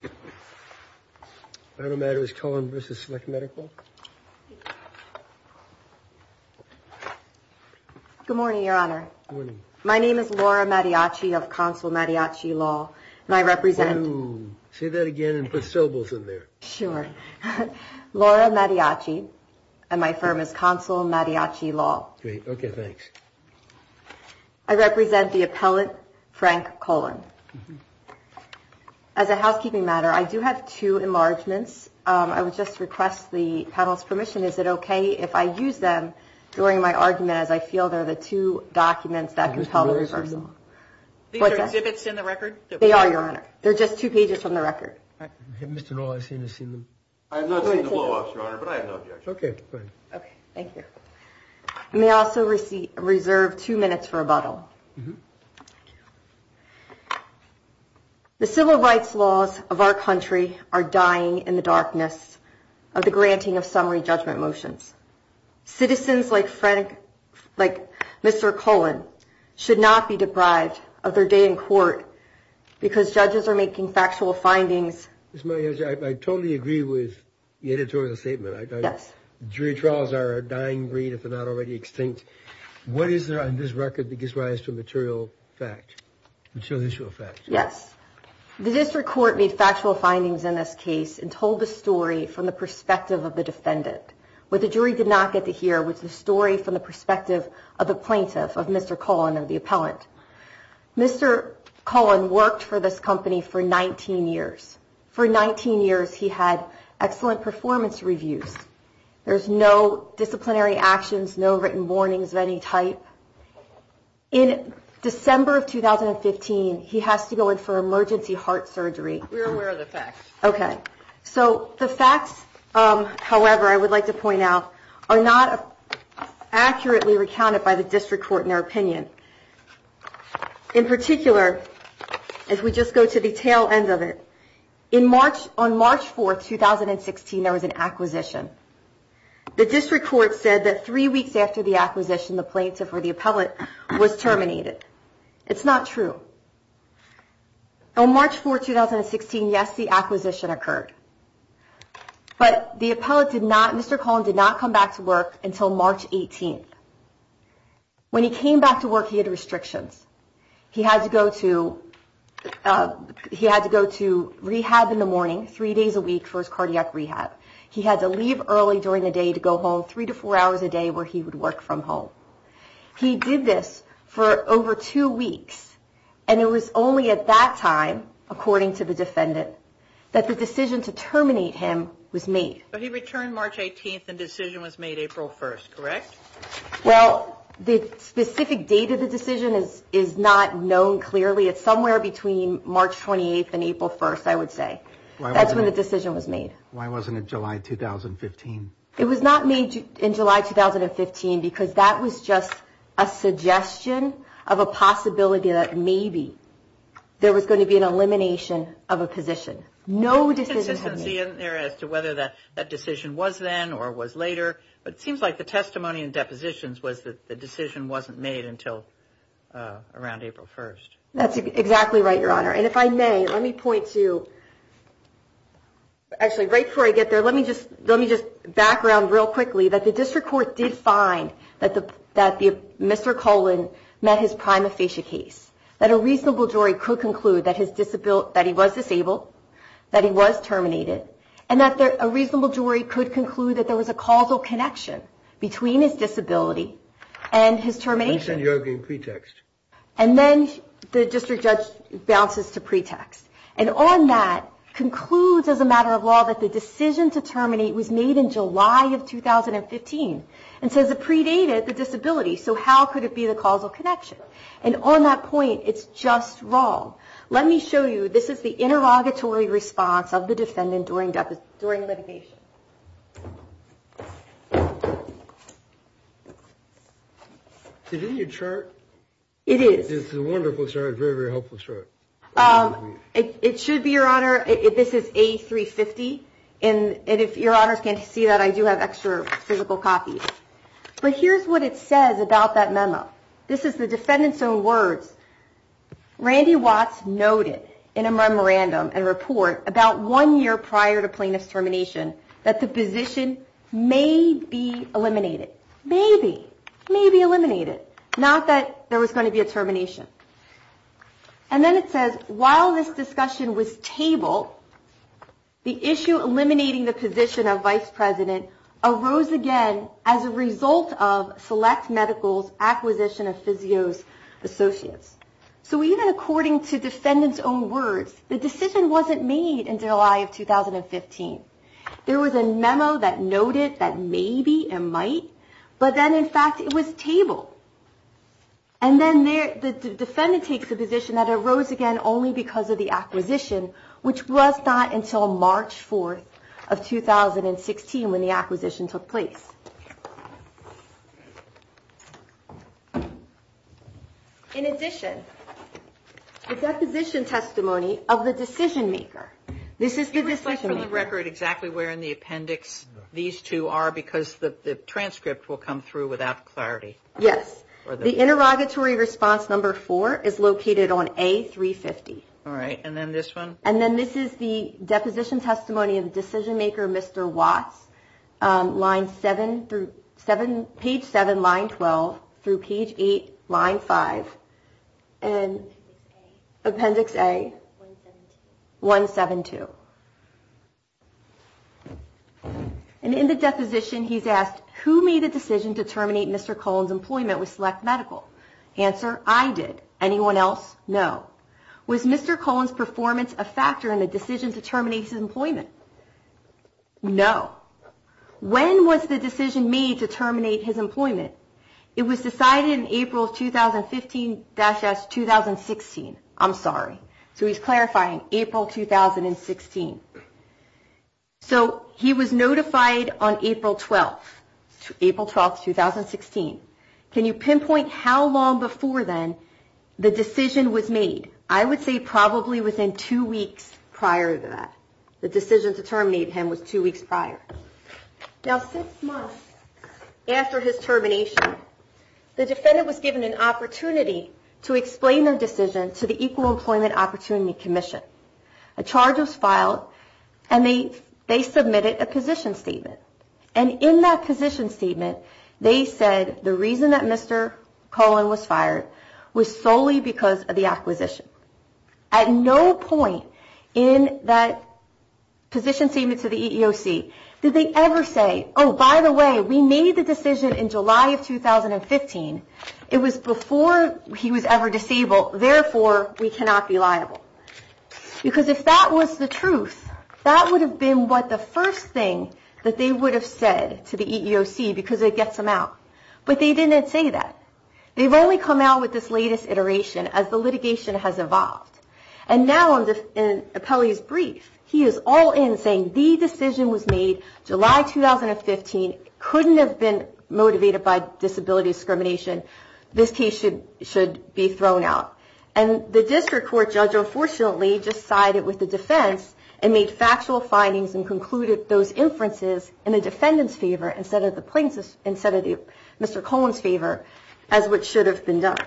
Good morning, Your Honor. My name is Laura Madiachi of Consul Madiachi Law, and I represent the appellate Frank Cullen. As a housekeeping matter, I do have two enlargements. I would just request the panel's permission. Is it okay if I use them during my argument as I feel they're the two documents that compel the reversal? These are exhibits in the record? They are, Your Honor. They're just two pages from the record. Mr. Noll, I've seen them. I have not seen the blow-offs, Your Honor, but I have no objection. Okay, good. Okay, thank you. I may also reserve two minutes for rebuttal. The civil rights laws of our country are dying in the darkness of the granting of summary judgment motions. Citizens like Mr. Cullen should not be deprived of their day in court because judges are making factual findings. Ms. Madiachi, I totally agree with the editorial statement. Yes. Jury trials are a dying breed if they're not already extinct. What is there on this record that gives rise to material fact, material issue of fact? Yes. The district court made factual findings in this case and told the story from the perspective of the defendant. What the jury did not get to hear was the story from the perspective of the plaintiff, of Mr. Cullen and the appellant. Mr. Cullen worked for this company for 19 years. For 19 years, he had excellent performance reviews. There's no disciplinary actions, no written warnings of any type. In December of 2015, he has to go in for emergency heart surgery. We're aware of the facts. Okay. So the facts, however, I would like to point out, are not accurately recounted by the district court in their opinion. In particular, as we just go to the tail end of it, on March 4, 2016, there was an acquisition. The district court said that three weeks after the acquisition, the plaintiff or the appellant was terminated. It's not true. On March 4, 2016, yes, the acquisition occurred. But the appellant did not, Mr. Cullen did not come back to work until March 18th. When he came back to work, he had restrictions. He had to go to rehab in the morning three days a week for his cardiac rehab. He had to leave early during the day to go home three to four hours a day where he would work from home. He did this for over two weeks, and it was only at that time, according to the defendant, that the decision to terminate him was made. But he returned March 18th and the decision was made April 1st, correct? Well, the specific date of the decision is not known clearly. It's somewhere between March 28th and April 1st, I would say. That's when the decision was made. Why wasn't it July 2015? It was not made in July 2015 because that was just a suggestion of a possibility that maybe there was going to be an elimination of a position. No decision had been made. There's consistency in there as to whether that decision was then or was later, but it seems like the testimony and depositions was that the decision wasn't made until around April 1st. That's exactly right, Your Honor. And if I may, let me point to – actually, right before I get there, let me just background real quickly that the district court did find that Mr. Cullen met his prima facie case, that a reasonable jury could conclude that he was disabled, that he was terminated, and that a reasonable jury could conclude that there was a causal connection between his disability and his termination. You mentioned you're giving pretext. And then the district judge bounces to pretext. And on that concludes as a matter of law that the decision to terminate was made in July of 2015. And so it predated the disability. So how could it be the causal connection? And on that point, it's just wrong. Let me show you. This is the interrogatory response of the defendant during litigation. Is this your chart? It is. This is a wonderful chart, a very, very helpful chart. It should be, Your Honor. This is A350. And if Your Honors can't see that, I do have extra physical copies. But here's what it says about that memo. This is the defendant's own words. Randy Watts noted in a memorandum and report about one year prior to plaintiff's termination that the position may be eliminated. Maybe. Maybe eliminated. Not that there was going to be a termination. And then it says, while this discussion was tabled, the issue eliminating the position of vice president arose again as a result of select medical's acquisition of physios associates. So even according to defendant's own words, the decision wasn't made in July of 2015. There was a memo that noted that maybe and might. But then, in fact, it was tabled. And then the defendant takes a position that arose again only because of the acquisition, which was not until March 4th of 2016 when the acquisition took place. In addition, the deposition testimony of the decision maker. This is the decision maker. Can you reflect for the record exactly where in the appendix these two are? Because the transcript will come through without clarity. Yes. The interrogatory response number four is located on A350. All right. And then this one? And then this is the deposition testimony of the decision maker, Mr. Watts, page 7, line 12, through page 8, line 5, appendix A, 172. And in the deposition, he's asked, who made the decision to terminate Mr. Cullen's employment with select medical? Answer, I did. Anyone else? No. Was Mr. Cullen's performance a factor in the decision to terminate his employment? No. When was the decision made to terminate his employment? It was decided in April 2015-2016. I'm sorry. So he's clarifying, April 2016. So he was notified on April 12th, April 12th, 2016. Can you pinpoint how long before then the decision was made? I would say probably within two weeks prior to that. The decision to terminate him was two weeks prior. Now, six months after his termination, the defendant was given an opportunity to explain their decision to the Equal Employment Opportunity Commission. A charge was filed, and they submitted a position statement. And in that position statement, they said the reason that Mr. Cullen was fired was solely because of the acquisition. At no point in that position statement to the EEOC did they ever say, oh, by the way, we made the decision in July of 2015. It was before he was ever disabled. Therefore, we cannot be liable. Because if that was the truth, that would have been what the first thing that they would have said to the EEOC because it gets them out. But they didn't say that. They've only come out with this latest iteration as the litigation has evolved. And now in Appellee's brief, he is all in, saying the decision was made July 2015, couldn't have been motivated by disability discrimination. This case should be thrown out. And the district court judge, unfortunately, may have just sided with the defense and made factual findings and concluded those inferences in the defendant's favor instead of Mr. Cullen's favor as what should have been done.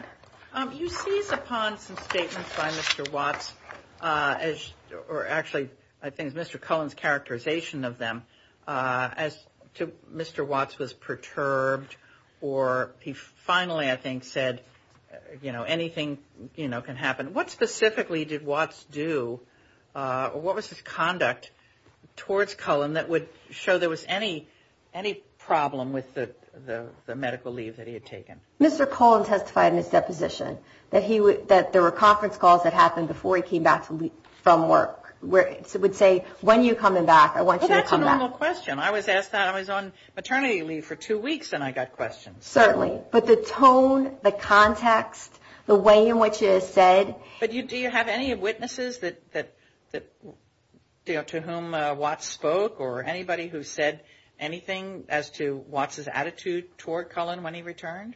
You seized upon some statements by Mr. Watts, or actually I think it was Mr. Cullen's characterization of them, as to Mr. Watts was perturbed or he finally, I think, said anything can happen. What specifically did Watts do, or what was his conduct towards Cullen that would show there was any problem with the medical leave that he had taken? Mr. Cullen testified in his deposition that there were conference calls that happened before he came back from work where he would say, when are you coming back, I want you to come back. Well, that's a normal question. I was asked that. I was on maternity leave for two weeks and I got questions. Certainly. But the tone, the context, the way in which it is said. But do you have any witnesses to whom Watts spoke or anybody who said anything as to Watts' attitude toward Cullen when he returned?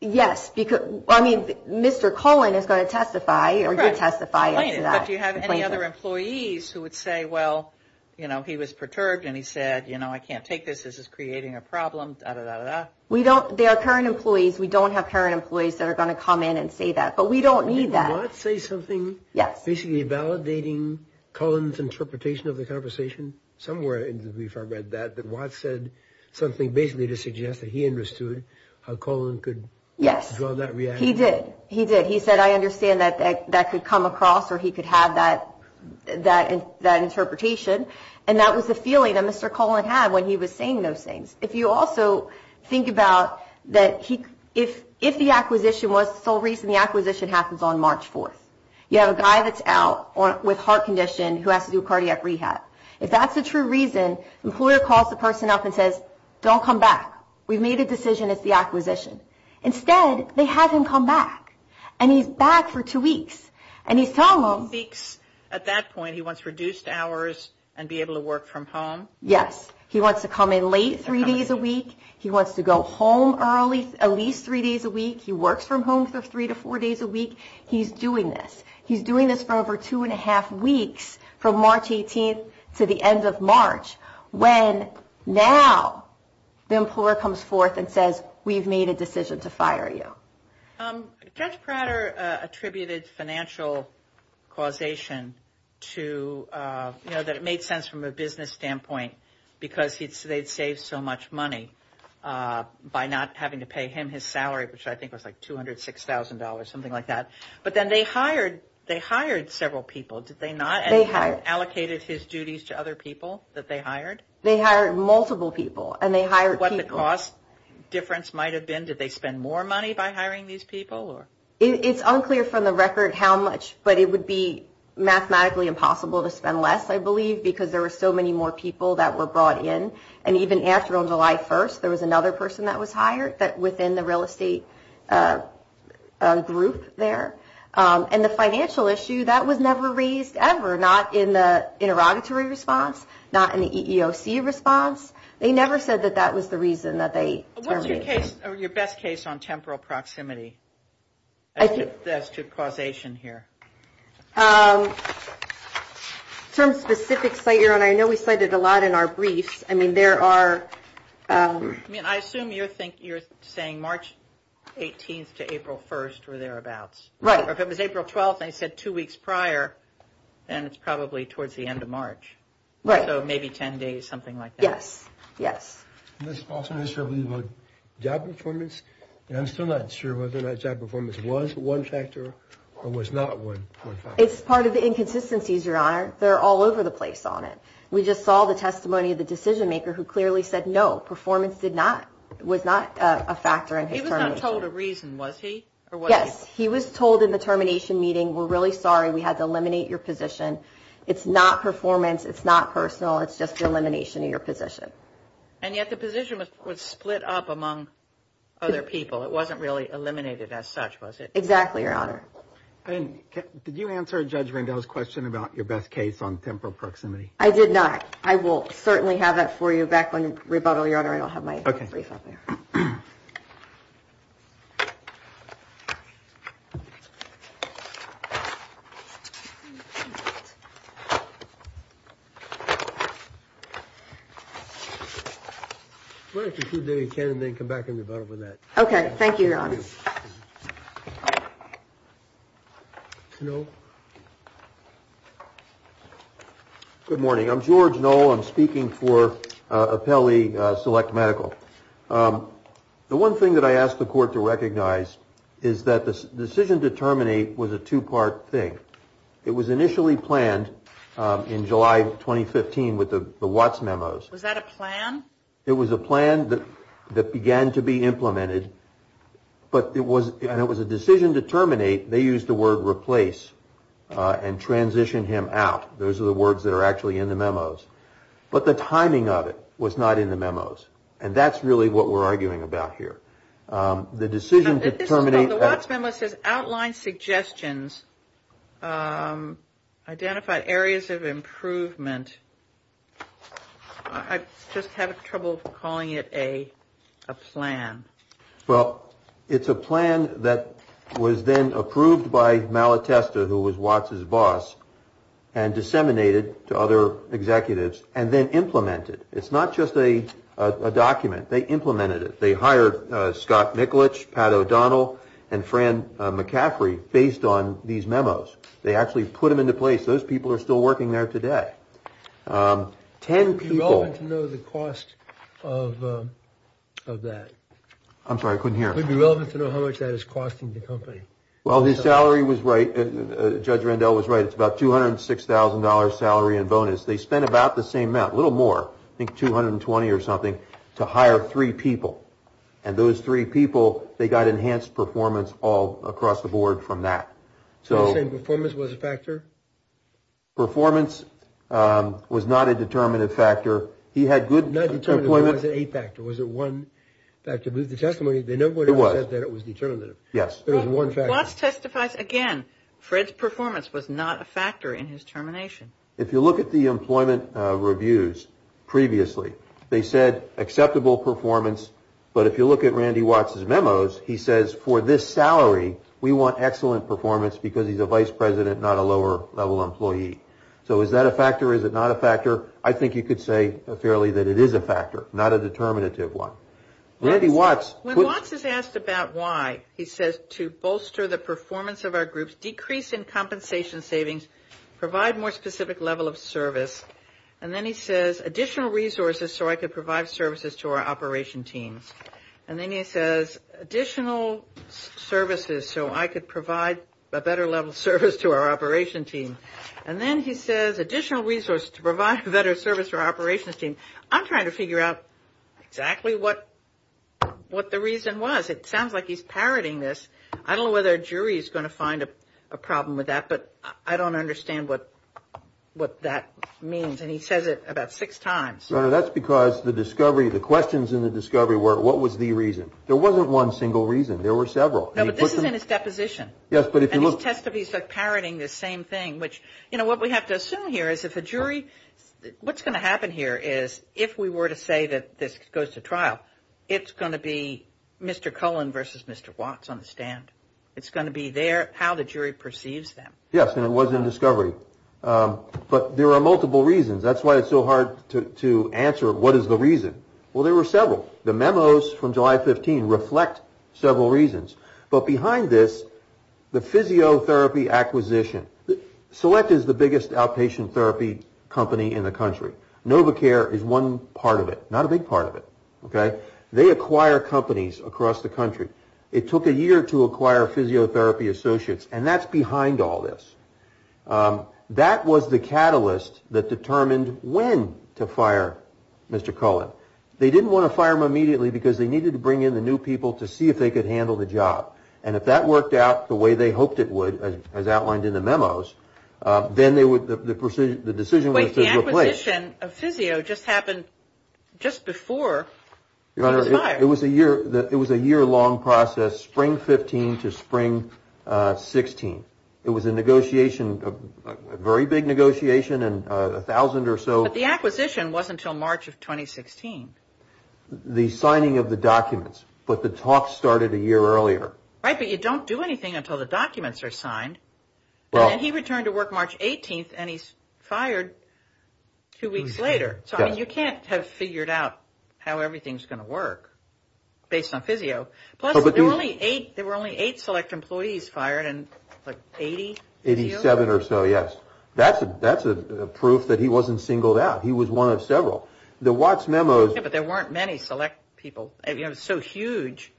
Yes. I mean, Mr. Cullen is going to testify, or you're testifying to that. But do you have any other employees who would say, well, he was perturbed and he said, I can't take this, this is creating a problem, da-da-da-da. They are current employees. We don't have current employees that are going to come in and say that. But we don't need that. Did Watts say something? Yes. Basically validating Cullen's interpretation of the conversation? Somewhere in the brief I read that, that Watts said something basically to suggest that he understood how Cullen could draw that reaction. He did. He did. He said, I understand that that could come across or he could have that interpretation. And that was the feeling that Mr. Cullen had when he was saying those things. If you also think about that if the acquisition was the sole reason the acquisition happens on March 4th, you have a guy that's out with heart condition who has to do cardiac rehab. If that's the true reason, the employer calls the person up and says, don't come back. We've made a decision, it's the acquisition. Instead, they have him come back. And he's back for two weeks. And he's telling them. Two weeks. At that point he wants reduced hours and be able to work from home? Yes. He wants to come in late three days a week. He wants to go home early at least three days a week. He works from home for three to four days a week. He's doing this. He's doing this for over two and a half weeks from March 18th to the end of March when now the employer comes forth and says, we've made a decision to fire you. Judge Prater attributed financial causation to, you know, it made sense from a business standpoint because they'd saved so much money by not having to pay him his salary, which I think was like $206,000, something like that. But then they hired several people, did they not? They hired. And allocated his duties to other people that they hired? They hired multiple people. And they hired people. What the cost difference might have been? Did they spend more money by hiring these people? It's unclear from the record how much, but it would be mathematically impossible to spend less, I believe, because there were so many more people that were brought in. And even after on July 1st, there was another person that was hired within the real estate group there. And the financial issue, that was never raised ever, not in the interrogatory response, not in the EEOC response. Your best case on temporal proximity as to causation here. Some specific site you're on. I know we cited a lot in our briefs. I mean, there are. I mean, I assume you're saying March 18th to April 1st were thereabouts. Right. Or if it was April 12th and they said two weeks prior, then it's probably towards the end of March. Right. So maybe 10 days, something like that. Yes. Yes. And this also has to do with job performance. And I'm still not sure whether or not job performance was one factor or was not one factor. It's part of the inconsistencies, Your Honor. They're all over the place on it. We just saw the testimony of the decision maker who clearly said no, performance was not a factor in his termination. He was not told a reason, was he? Yes, he was told in the termination meeting, we're really sorry we had to eliminate your position. It's not performance. It's not personal. It's just the elimination of your position. And yet the position was split up among other people. It wasn't really eliminated as such, was it? Exactly, Your Honor. And did you answer Judge Rendell's question about your best case on temporal proximity? I did not. Sorry, I'll have my brief up there. Okay. Thank you, Your Honor. Good morning. I'm George Knoll. I'm speaking for Apelli Select Medical. The one thing that I asked the court to recognize is that the decision to terminate was a two-part thing. It was initially planned in July 2015 with the Watts memos. Was that a plan? It was a plan that began to be implemented, but when it was a decision to terminate, they used the word replace and transition him out. Those are the words that are actually in the memos. But the timing of it was not in the memos. And that's really what we're arguing about here. The decision to terminate. The Watts memo says outline suggestions, identify areas of improvement. I just have trouble calling it a plan. Well, it's a plan that was then approved by Malatesta, who was Watts' boss, and disseminated to other executives and then implemented. It's not just a document. They implemented it. They hired Scott Mikulich, Pat O'Donnell, and Fran McCaffrey based on these memos. They actually put them into place. Those people are still working there today. Ten people. Would it be relevant to know the cost of that? I'm sorry. I couldn't hear. Would it be relevant to know how much that is costing the company? Well, his salary was right. Judge Randall was right. It's about $206,000 salary and bonus. They spent about the same amount, a little more, I think $220,000 or something, to hire three people. And those three people, they got enhanced performance all across the board from that. So you're saying performance was a factor? Performance was not a determinative factor. He had good employment. Not determinative. It wasn't a factor. Was it one factor? The testimony, they never said that it was determinative. Yes. It was one factor. Watts testifies again. Fred's performance was not a factor in his termination. If you look at the employment reviews previously, they said acceptable performance. But if you look at Randy Watts' memos, he says for this salary, we want excellent performance because he's a vice president, not a lower-level employee. So is that a factor? Is it not a factor? I think you could say fairly that it is a factor, not a determinative one. Randy Watts. When Watts is asked about why, he says to bolster the performance of our groups, decrease in compensation savings, provide more specific level of service. And then he says additional resources so I could provide services to our operation teams. And then he says additional services so I could provide a better level of service to our operation team. And then he says additional resources to provide a better service for our operations team. I'm trying to figure out exactly what the reason was. It sounds like he's parroting this. I don't know whether a jury is going to find a problem with that, but I don't understand what that means. And he says it about six times. No, that's because the discovery, the questions in the discovery were what was the reason. There wasn't one single reason. There were several. No, but this is in his deposition. Yes, but if you look. And he testifies like parroting the same thing, which, you know, What we have to assume here is if a jury, what's going to happen here is if we were to say that this goes to trial, it's going to be Mr. Cullen versus Mr. Watts on the stand. It's going to be how the jury perceives them. Yes, and it was in discovery. But there are multiple reasons. That's why it's so hard to answer what is the reason. Well, there were several. The memos from July 15 reflect several reasons. But behind this, the physiotherapy acquisition. Select is the biggest outpatient therapy company in the country. Novocare is one part of it, not a big part of it. Okay. They acquire companies across the country. It took a year to acquire physiotherapy associates. And that's behind all this. That was the catalyst that determined when to fire Mr. Cullen. They didn't want to fire him immediately because they needed to bring in the new people to see if they could handle the job. And if that worked out the way they hoped it would, as outlined in the memos, then the decision was to replace. Wait, the acquisition of physio just happened just before he was fired. Your Honor, it was a year-long process, spring 15 to spring 16. It was a negotiation, a very big negotiation, and 1,000 or so. But the acquisition wasn't until March of 2016. The signing of the documents. But the talks started a year earlier. Right, but you don't do anything until the documents are signed. And then he returned to work March 18th, and he's fired two weeks later. So, I mean, you can't have figured out how everything's going to work based on physio. Plus, there were only eight select employees fired in, like, 80? 87 or so, yes. That's proof that he wasn't singled out. He was one of several. The Watts memos. Yeah, but there weren't many select people. It was so huge.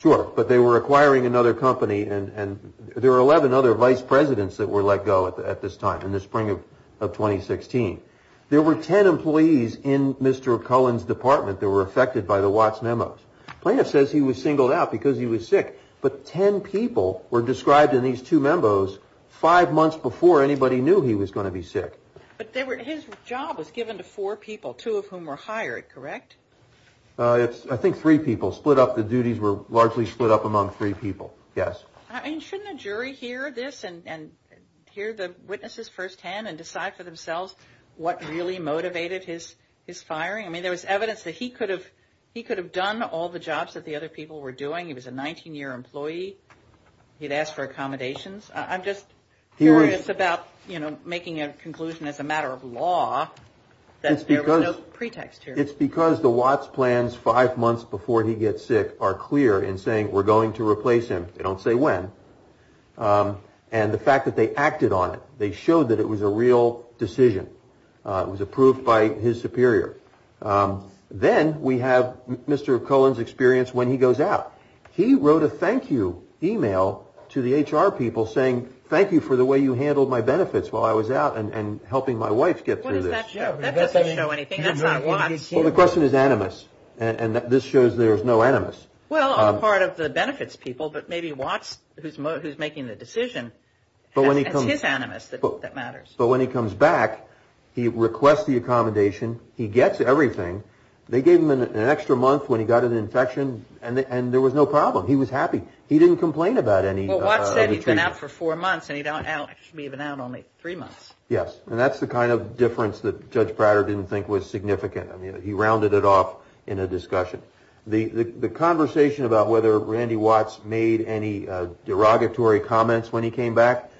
Sure, but they were acquiring another company. And there were 11 other vice presidents that were let go at this time, in the spring of 2016. There were 10 employees in Mr. Cullen's department that were affected by the Watts memos. Plaintiff says he was singled out because he was sick. But 10 people were described in these two memos five months before anybody knew he was going to be sick. But his job was given to four people, two of whom were hired, correct? I think three people split up. The duties were largely split up among three people, yes. And shouldn't a jury hear this and hear the witnesses firsthand and decide for themselves what really motivated his firing? I mean, there was evidence that he could have done all the jobs that the other people were doing. He'd asked for accommodations. I'm just curious about, you know, making a conclusion as a matter of law that there was no pretext here. It's because the Watts plans five months before he gets sick are clear in saying we're going to replace him. They don't say when. And the fact that they acted on it, they showed that it was a real decision. It was approved by his superior. Then we have Mr. Cullen's experience when he goes out. He wrote a thank you e-mail to the HR people saying thank you for the way you handled my benefits while I was out and helping my wife get through this. What does that show? That doesn't show anything. That's not Watts. Well, the question is animus. And this shows there's no animus. Well, on the part of the benefits people, but maybe Watts, who's making the decision, it's his animus that matters. But when he comes back, he requests the accommodation. He gets everything. They gave him an extra month when he got an infection and there was no problem. He was happy. He didn't complain about any. Well, Watts said he's been out for four months and he's been out only three months. Yes. And that's the kind of difference that Judge Prater didn't think was significant. I mean, he rounded it off in a discussion. The conversation about whether Randy Watts made any derogatory comments when he came back.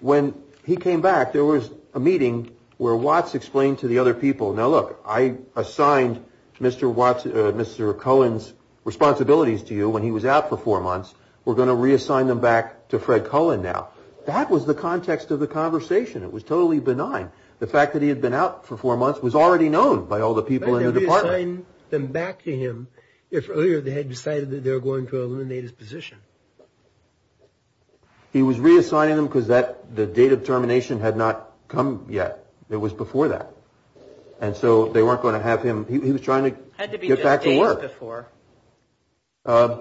When he came back, there was a meeting where Watts explained to the other people, Now, look, I assigned Mr. Watts, Mr. Cohen's responsibilities to you when he was out for four months. We're going to reassign them back to Fred Cohen now. That was the context of the conversation. It was totally benign. The fact that he had been out for four months was already known by all the people in the department. Then back to him. If earlier they had decided that they were going to eliminate his position. He was reassigning them because that the date of termination had not come yet. It was before that. And so they weren't going to have him. He was trying to get back to work. Had to be just days before.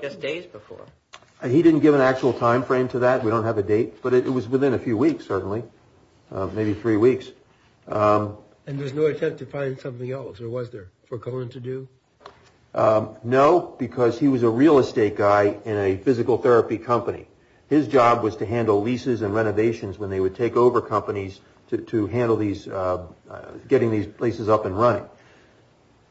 Just days before. He didn't give an actual time frame to that. We don't have a date. But it was within a few weeks, certainly. Maybe three weeks. And there's no attempt to find something else, or was there, for Cohen to do? No, because he was a real estate guy in a physical therapy company. His job was to handle leases and renovations when they would take over companies to handle these, getting these places up and running.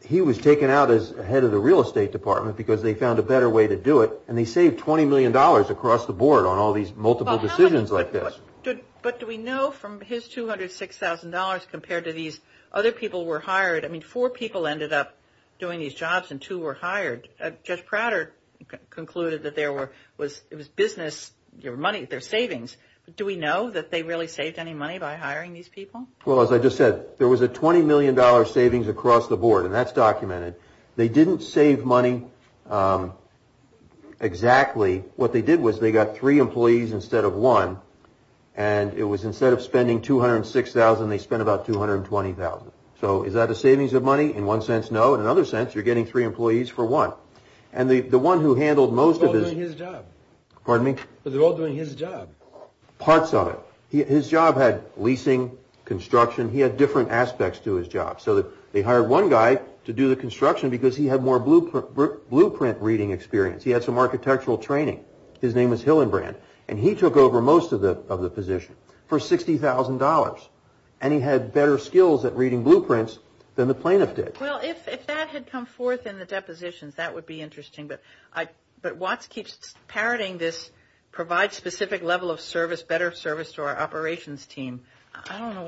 He was taken out as head of the real estate department because they found a better way to do it. And they saved $20 million across the board on all these multiple decisions like this. But do we know from his $206,000 compared to these other people who were hired, I mean, four people ended up doing these jobs and two were hired. Judge Prater concluded that it was business, their money, their savings. Do we know that they really saved any money by hiring these people? Well, as I just said, there was a $20 million savings across the board, and that's documented. They didn't save money exactly. What they did was they got three employees instead of one, and it was instead of spending $206,000, they spent about $220,000. So is that a savings of money? In one sense, no. In another sense, you're getting three employees for one. And the one who handled most of his... They're all doing his job. Pardon me? They're all doing his job. Parts of it. His job had leasing, construction. He had different aspects to his job. So they hired one guy to do the construction because he had more blueprint reading experience. He had some architectural training. His name is Hillenbrand. And he took over most of the position for $60,000. And he had better skills at reading blueprints than the plaintiff did. Well, if that had come forth in the depositions, that would be interesting. But Watts keeps parroting this provide specific level of service, better service to our operations team. I don't know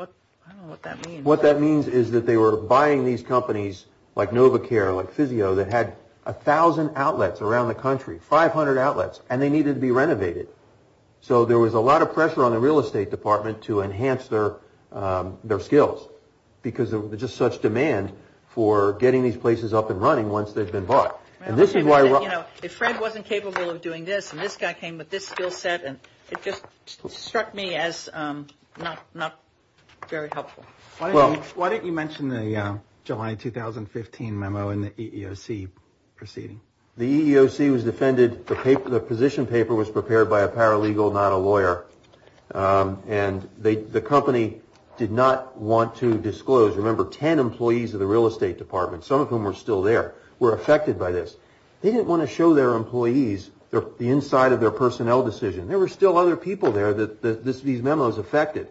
what that means. What that means is that they were buying these companies like NovaCare, like Physio, that had 1,000 outlets around the country, 500 outlets, and they needed to be renovated. So there was a lot of pressure on the real estate department to enhance their skills because of just such demand for getting these places up and running once they've been bought. And this is why. You know, if Fred wasn't capable of doing this and this guy came with this skill set, it just struck me as not very helpful. Why didn't you mention the July 2015 memo in the EEOC proceeding? The EEOC was defended. And the company did not want to disclose. Remember, 10 employees of the real estate department, some of whom were still there, were affected by this. They didn't want to show their employees the inside of their personnel decision. There were still other people there that these memos affected.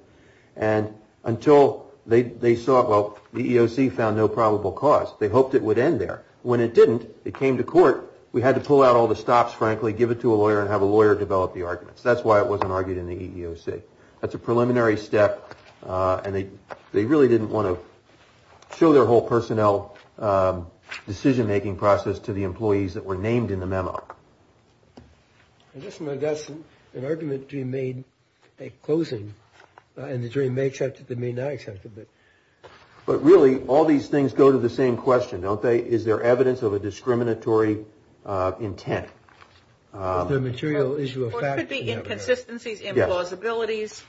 And until they saw it, well, the EEOC found no probable cause. They hoped it would end there. When it didn't, it came to court. We had to pull out all the stops, frankly, give it to a lawyer, and have a lawyer develop the arguments. That's why it wasn't argued in the EEOC. That's a preliminary step, and they really didn't want to show their whole personnel decision-making process to the employees that were named in the memo. I guess my guess is an argument can be made at closing, and the jury may accept it, they may not accept it. But really, all these things go to the same question, don't they? Is there evidence of a discriminatory intent? Is there a material issue of fact? There could be inconsistencies, implausibilities.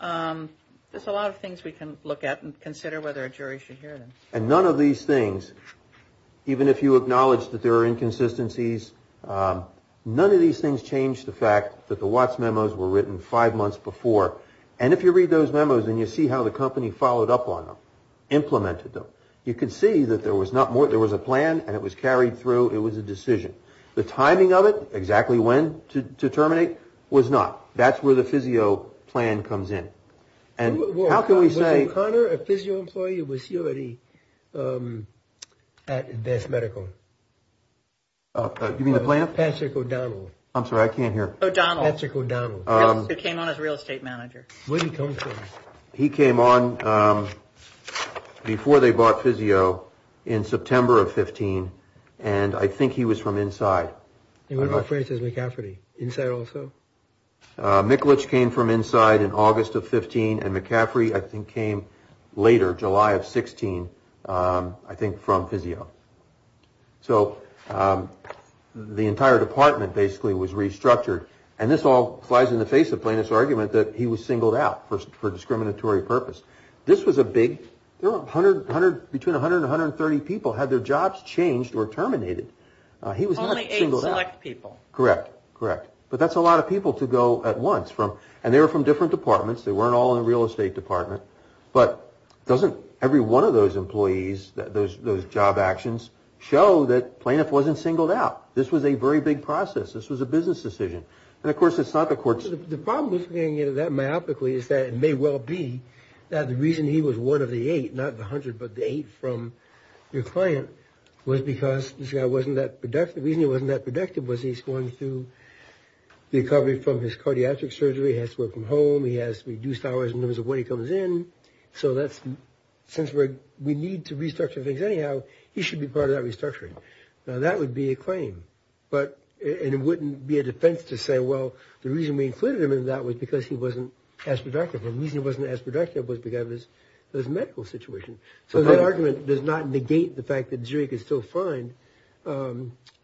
There's a lot of things we can look at and consider whether a jury should hear them. And none of these things, even if you acknowledge that there are inconsistencies, none of these things change the fact that the Watts memos were written five months before. And if you read those memos and you see how the company followed up on them, implemented them, you can see that there was a plan and it was carried through, it was a decision. The timing of it, exactly when to terminate, was not. That's where the physio plan comes in. And how can we say... Was O'Connor a physio employee or was he already at Best Medical? You mean the plant? Patrick O'Donnell. I'm sorry, I can't hear. O'Donnell. Patrick O'Donnell. He came on as real estate manager. When did he come to? He came on before they bought physio in September of 15. And I think he was from inside. And what about Francis McCaffrey, inside also? Mikulich came from inside in August of 15. And McCaffrey, I think, came later, July of 16, I think, from physio. So the entire department basically was restructured. And this all flies in the face of Plaintiff's argument that he was singled out for discriminatory purpose. This was a big... There were between 100 and 130 people had their jobs changed or terminated. He was not singled out. Only eight select people. Correct, correct. But that's a lot of people to go at once. And they were from different departments. They weren't all in the real estate department. But doesn't every one of those employees, those job actions, show that Plaintiff wasn't singled out? This was a very big process. This was a business decision. And, of course, it's not the court's... The problem with looking at it that myopically is that it may well be that the reason he was one of the eight, not the 100, but the eight from your client, was because this guy wasn't that productive. The reason he wasn't that productive was he's going through the recovery from his cardiatric surgery. He has to work from home. He has reduced hours in terms of when he comes in. So that's... Since we need to restructure things anyhow, he should be part of that restructuring. Now, that would be a claim. But it wouldn't be a defense to say, well, the reason we included him in that was because he wasn't as productive. The reason he wasn't as productive was because of his medical situation. So that argument does not negate the fact that jury could still find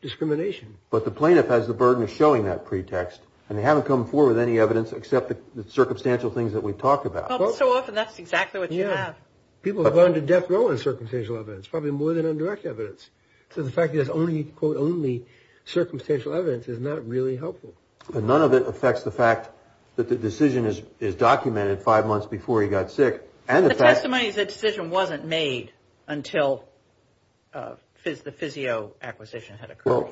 discrimination. But the Plaintiff has the burden of showing that pretext, and they haven't come forward with any evidence except the circumstantial things that we've talked about. Well, so often that's exactly what you have. People have gone to death row on circumstantial evidence, probably more than on direct evidence. So the fact that there's only, quote, only circumstantial evidence is not really helpful. But none of it affects the fact that the decision is documented five months before he got sick. And the fact... The testimony is the decision wasn't made until the physio acquisition had occurred. Well,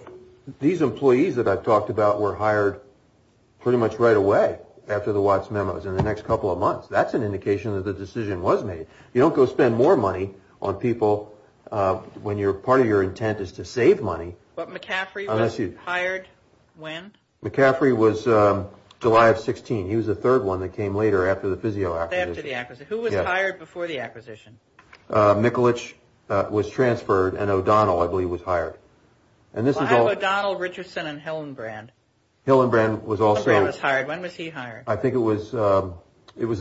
these employees that I've talked about were hired pretty much right away after the Watts memos in the next couple of months. That's an indication that the decision was made. You don't go spend more money on people when part of your intent is to save money. But McCaffrey was hired when? McCaffrey was July of 16. He was the third one that came later after the physio acquisition. After the acquisition. Who was hired before the acquisition? Mikulich was transferred, and O'Donnell, I believe, was hired. Why were O'Donnell, Richardson, and Hillenbrand? O'Donnell was hired. When was he hired? I think it was the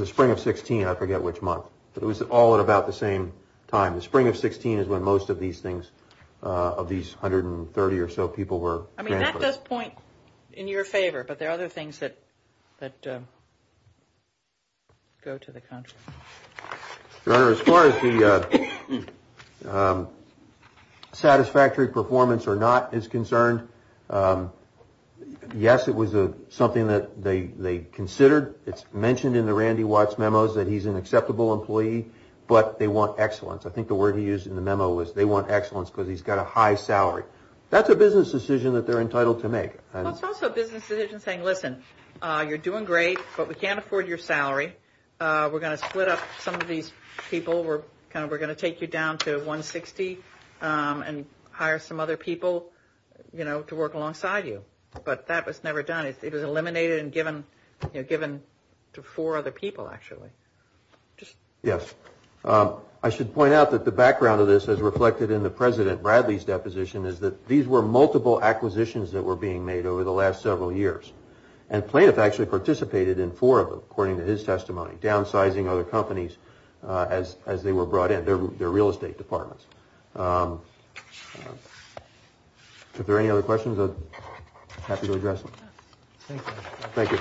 spring of 16. I forget which month. But it was all at about the same time. The spring of 16 is when most of these things, of these 130 or so people were transferred. I mean, that does point in your favor, but there are other things that go to the contrary. Your Honor, as far as the satisfactory performance or not is concerned, yes, it was something that they considered. It's mentioned in the Randy Watts memos that he's an acceptable employee, but they want excellence. I think the word he used in the memo was they want excellence because he's got a high salary. That's a business decision that they're entitled to make. It's also a business decision saying, listen, you're doing great, but we can't afford your salary. We're going to split up some of these people. We're going to take you down to 160 and hire some other people. You know, to work alongside you. But that was never done. It was eliminated and given to four other people, actually. Yes. I should point out that the background of this, as reflected in the President Bradley's deposition, is that these were multiple acquisitions that were being made over the last several years. And Plaintiff actually participated in four of them, according to his testimony, downsizing other companies as they were brought in, their real estate departments. If there are any other questions, I'm happy to address them. Thank you.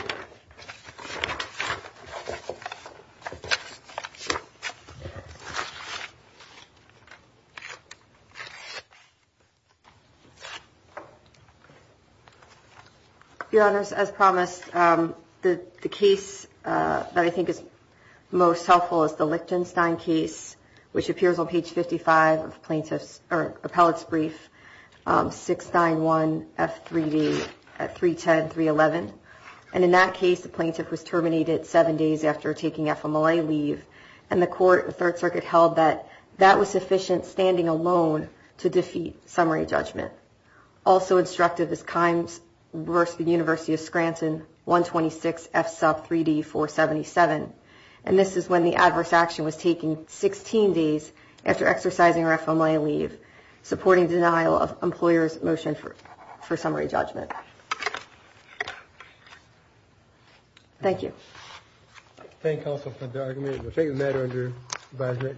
Your Honor, as promised, the case that I think is most helpful is the Lichtenstein case, which appears on page 55 of plaintiff's or appellate's brief, 691 F3D at 310, 311. And in that case, the plaintiff was terminated seven days after taking FMLA leave, and the Court of the Third Circuit held that that was sufficient standing alone to defeat summary judgment. Also instructed is Kimes v. University of Scranton, 126 F sub 3D 477. And this is when the adverse action was taken 16 days after exercising her FMLA leave, supporting denial of employer's motion for summary judgment. Thank you. Thank you, counsel, for the argument. Thank you. Thank you. Thank you. Thank you. Thank you.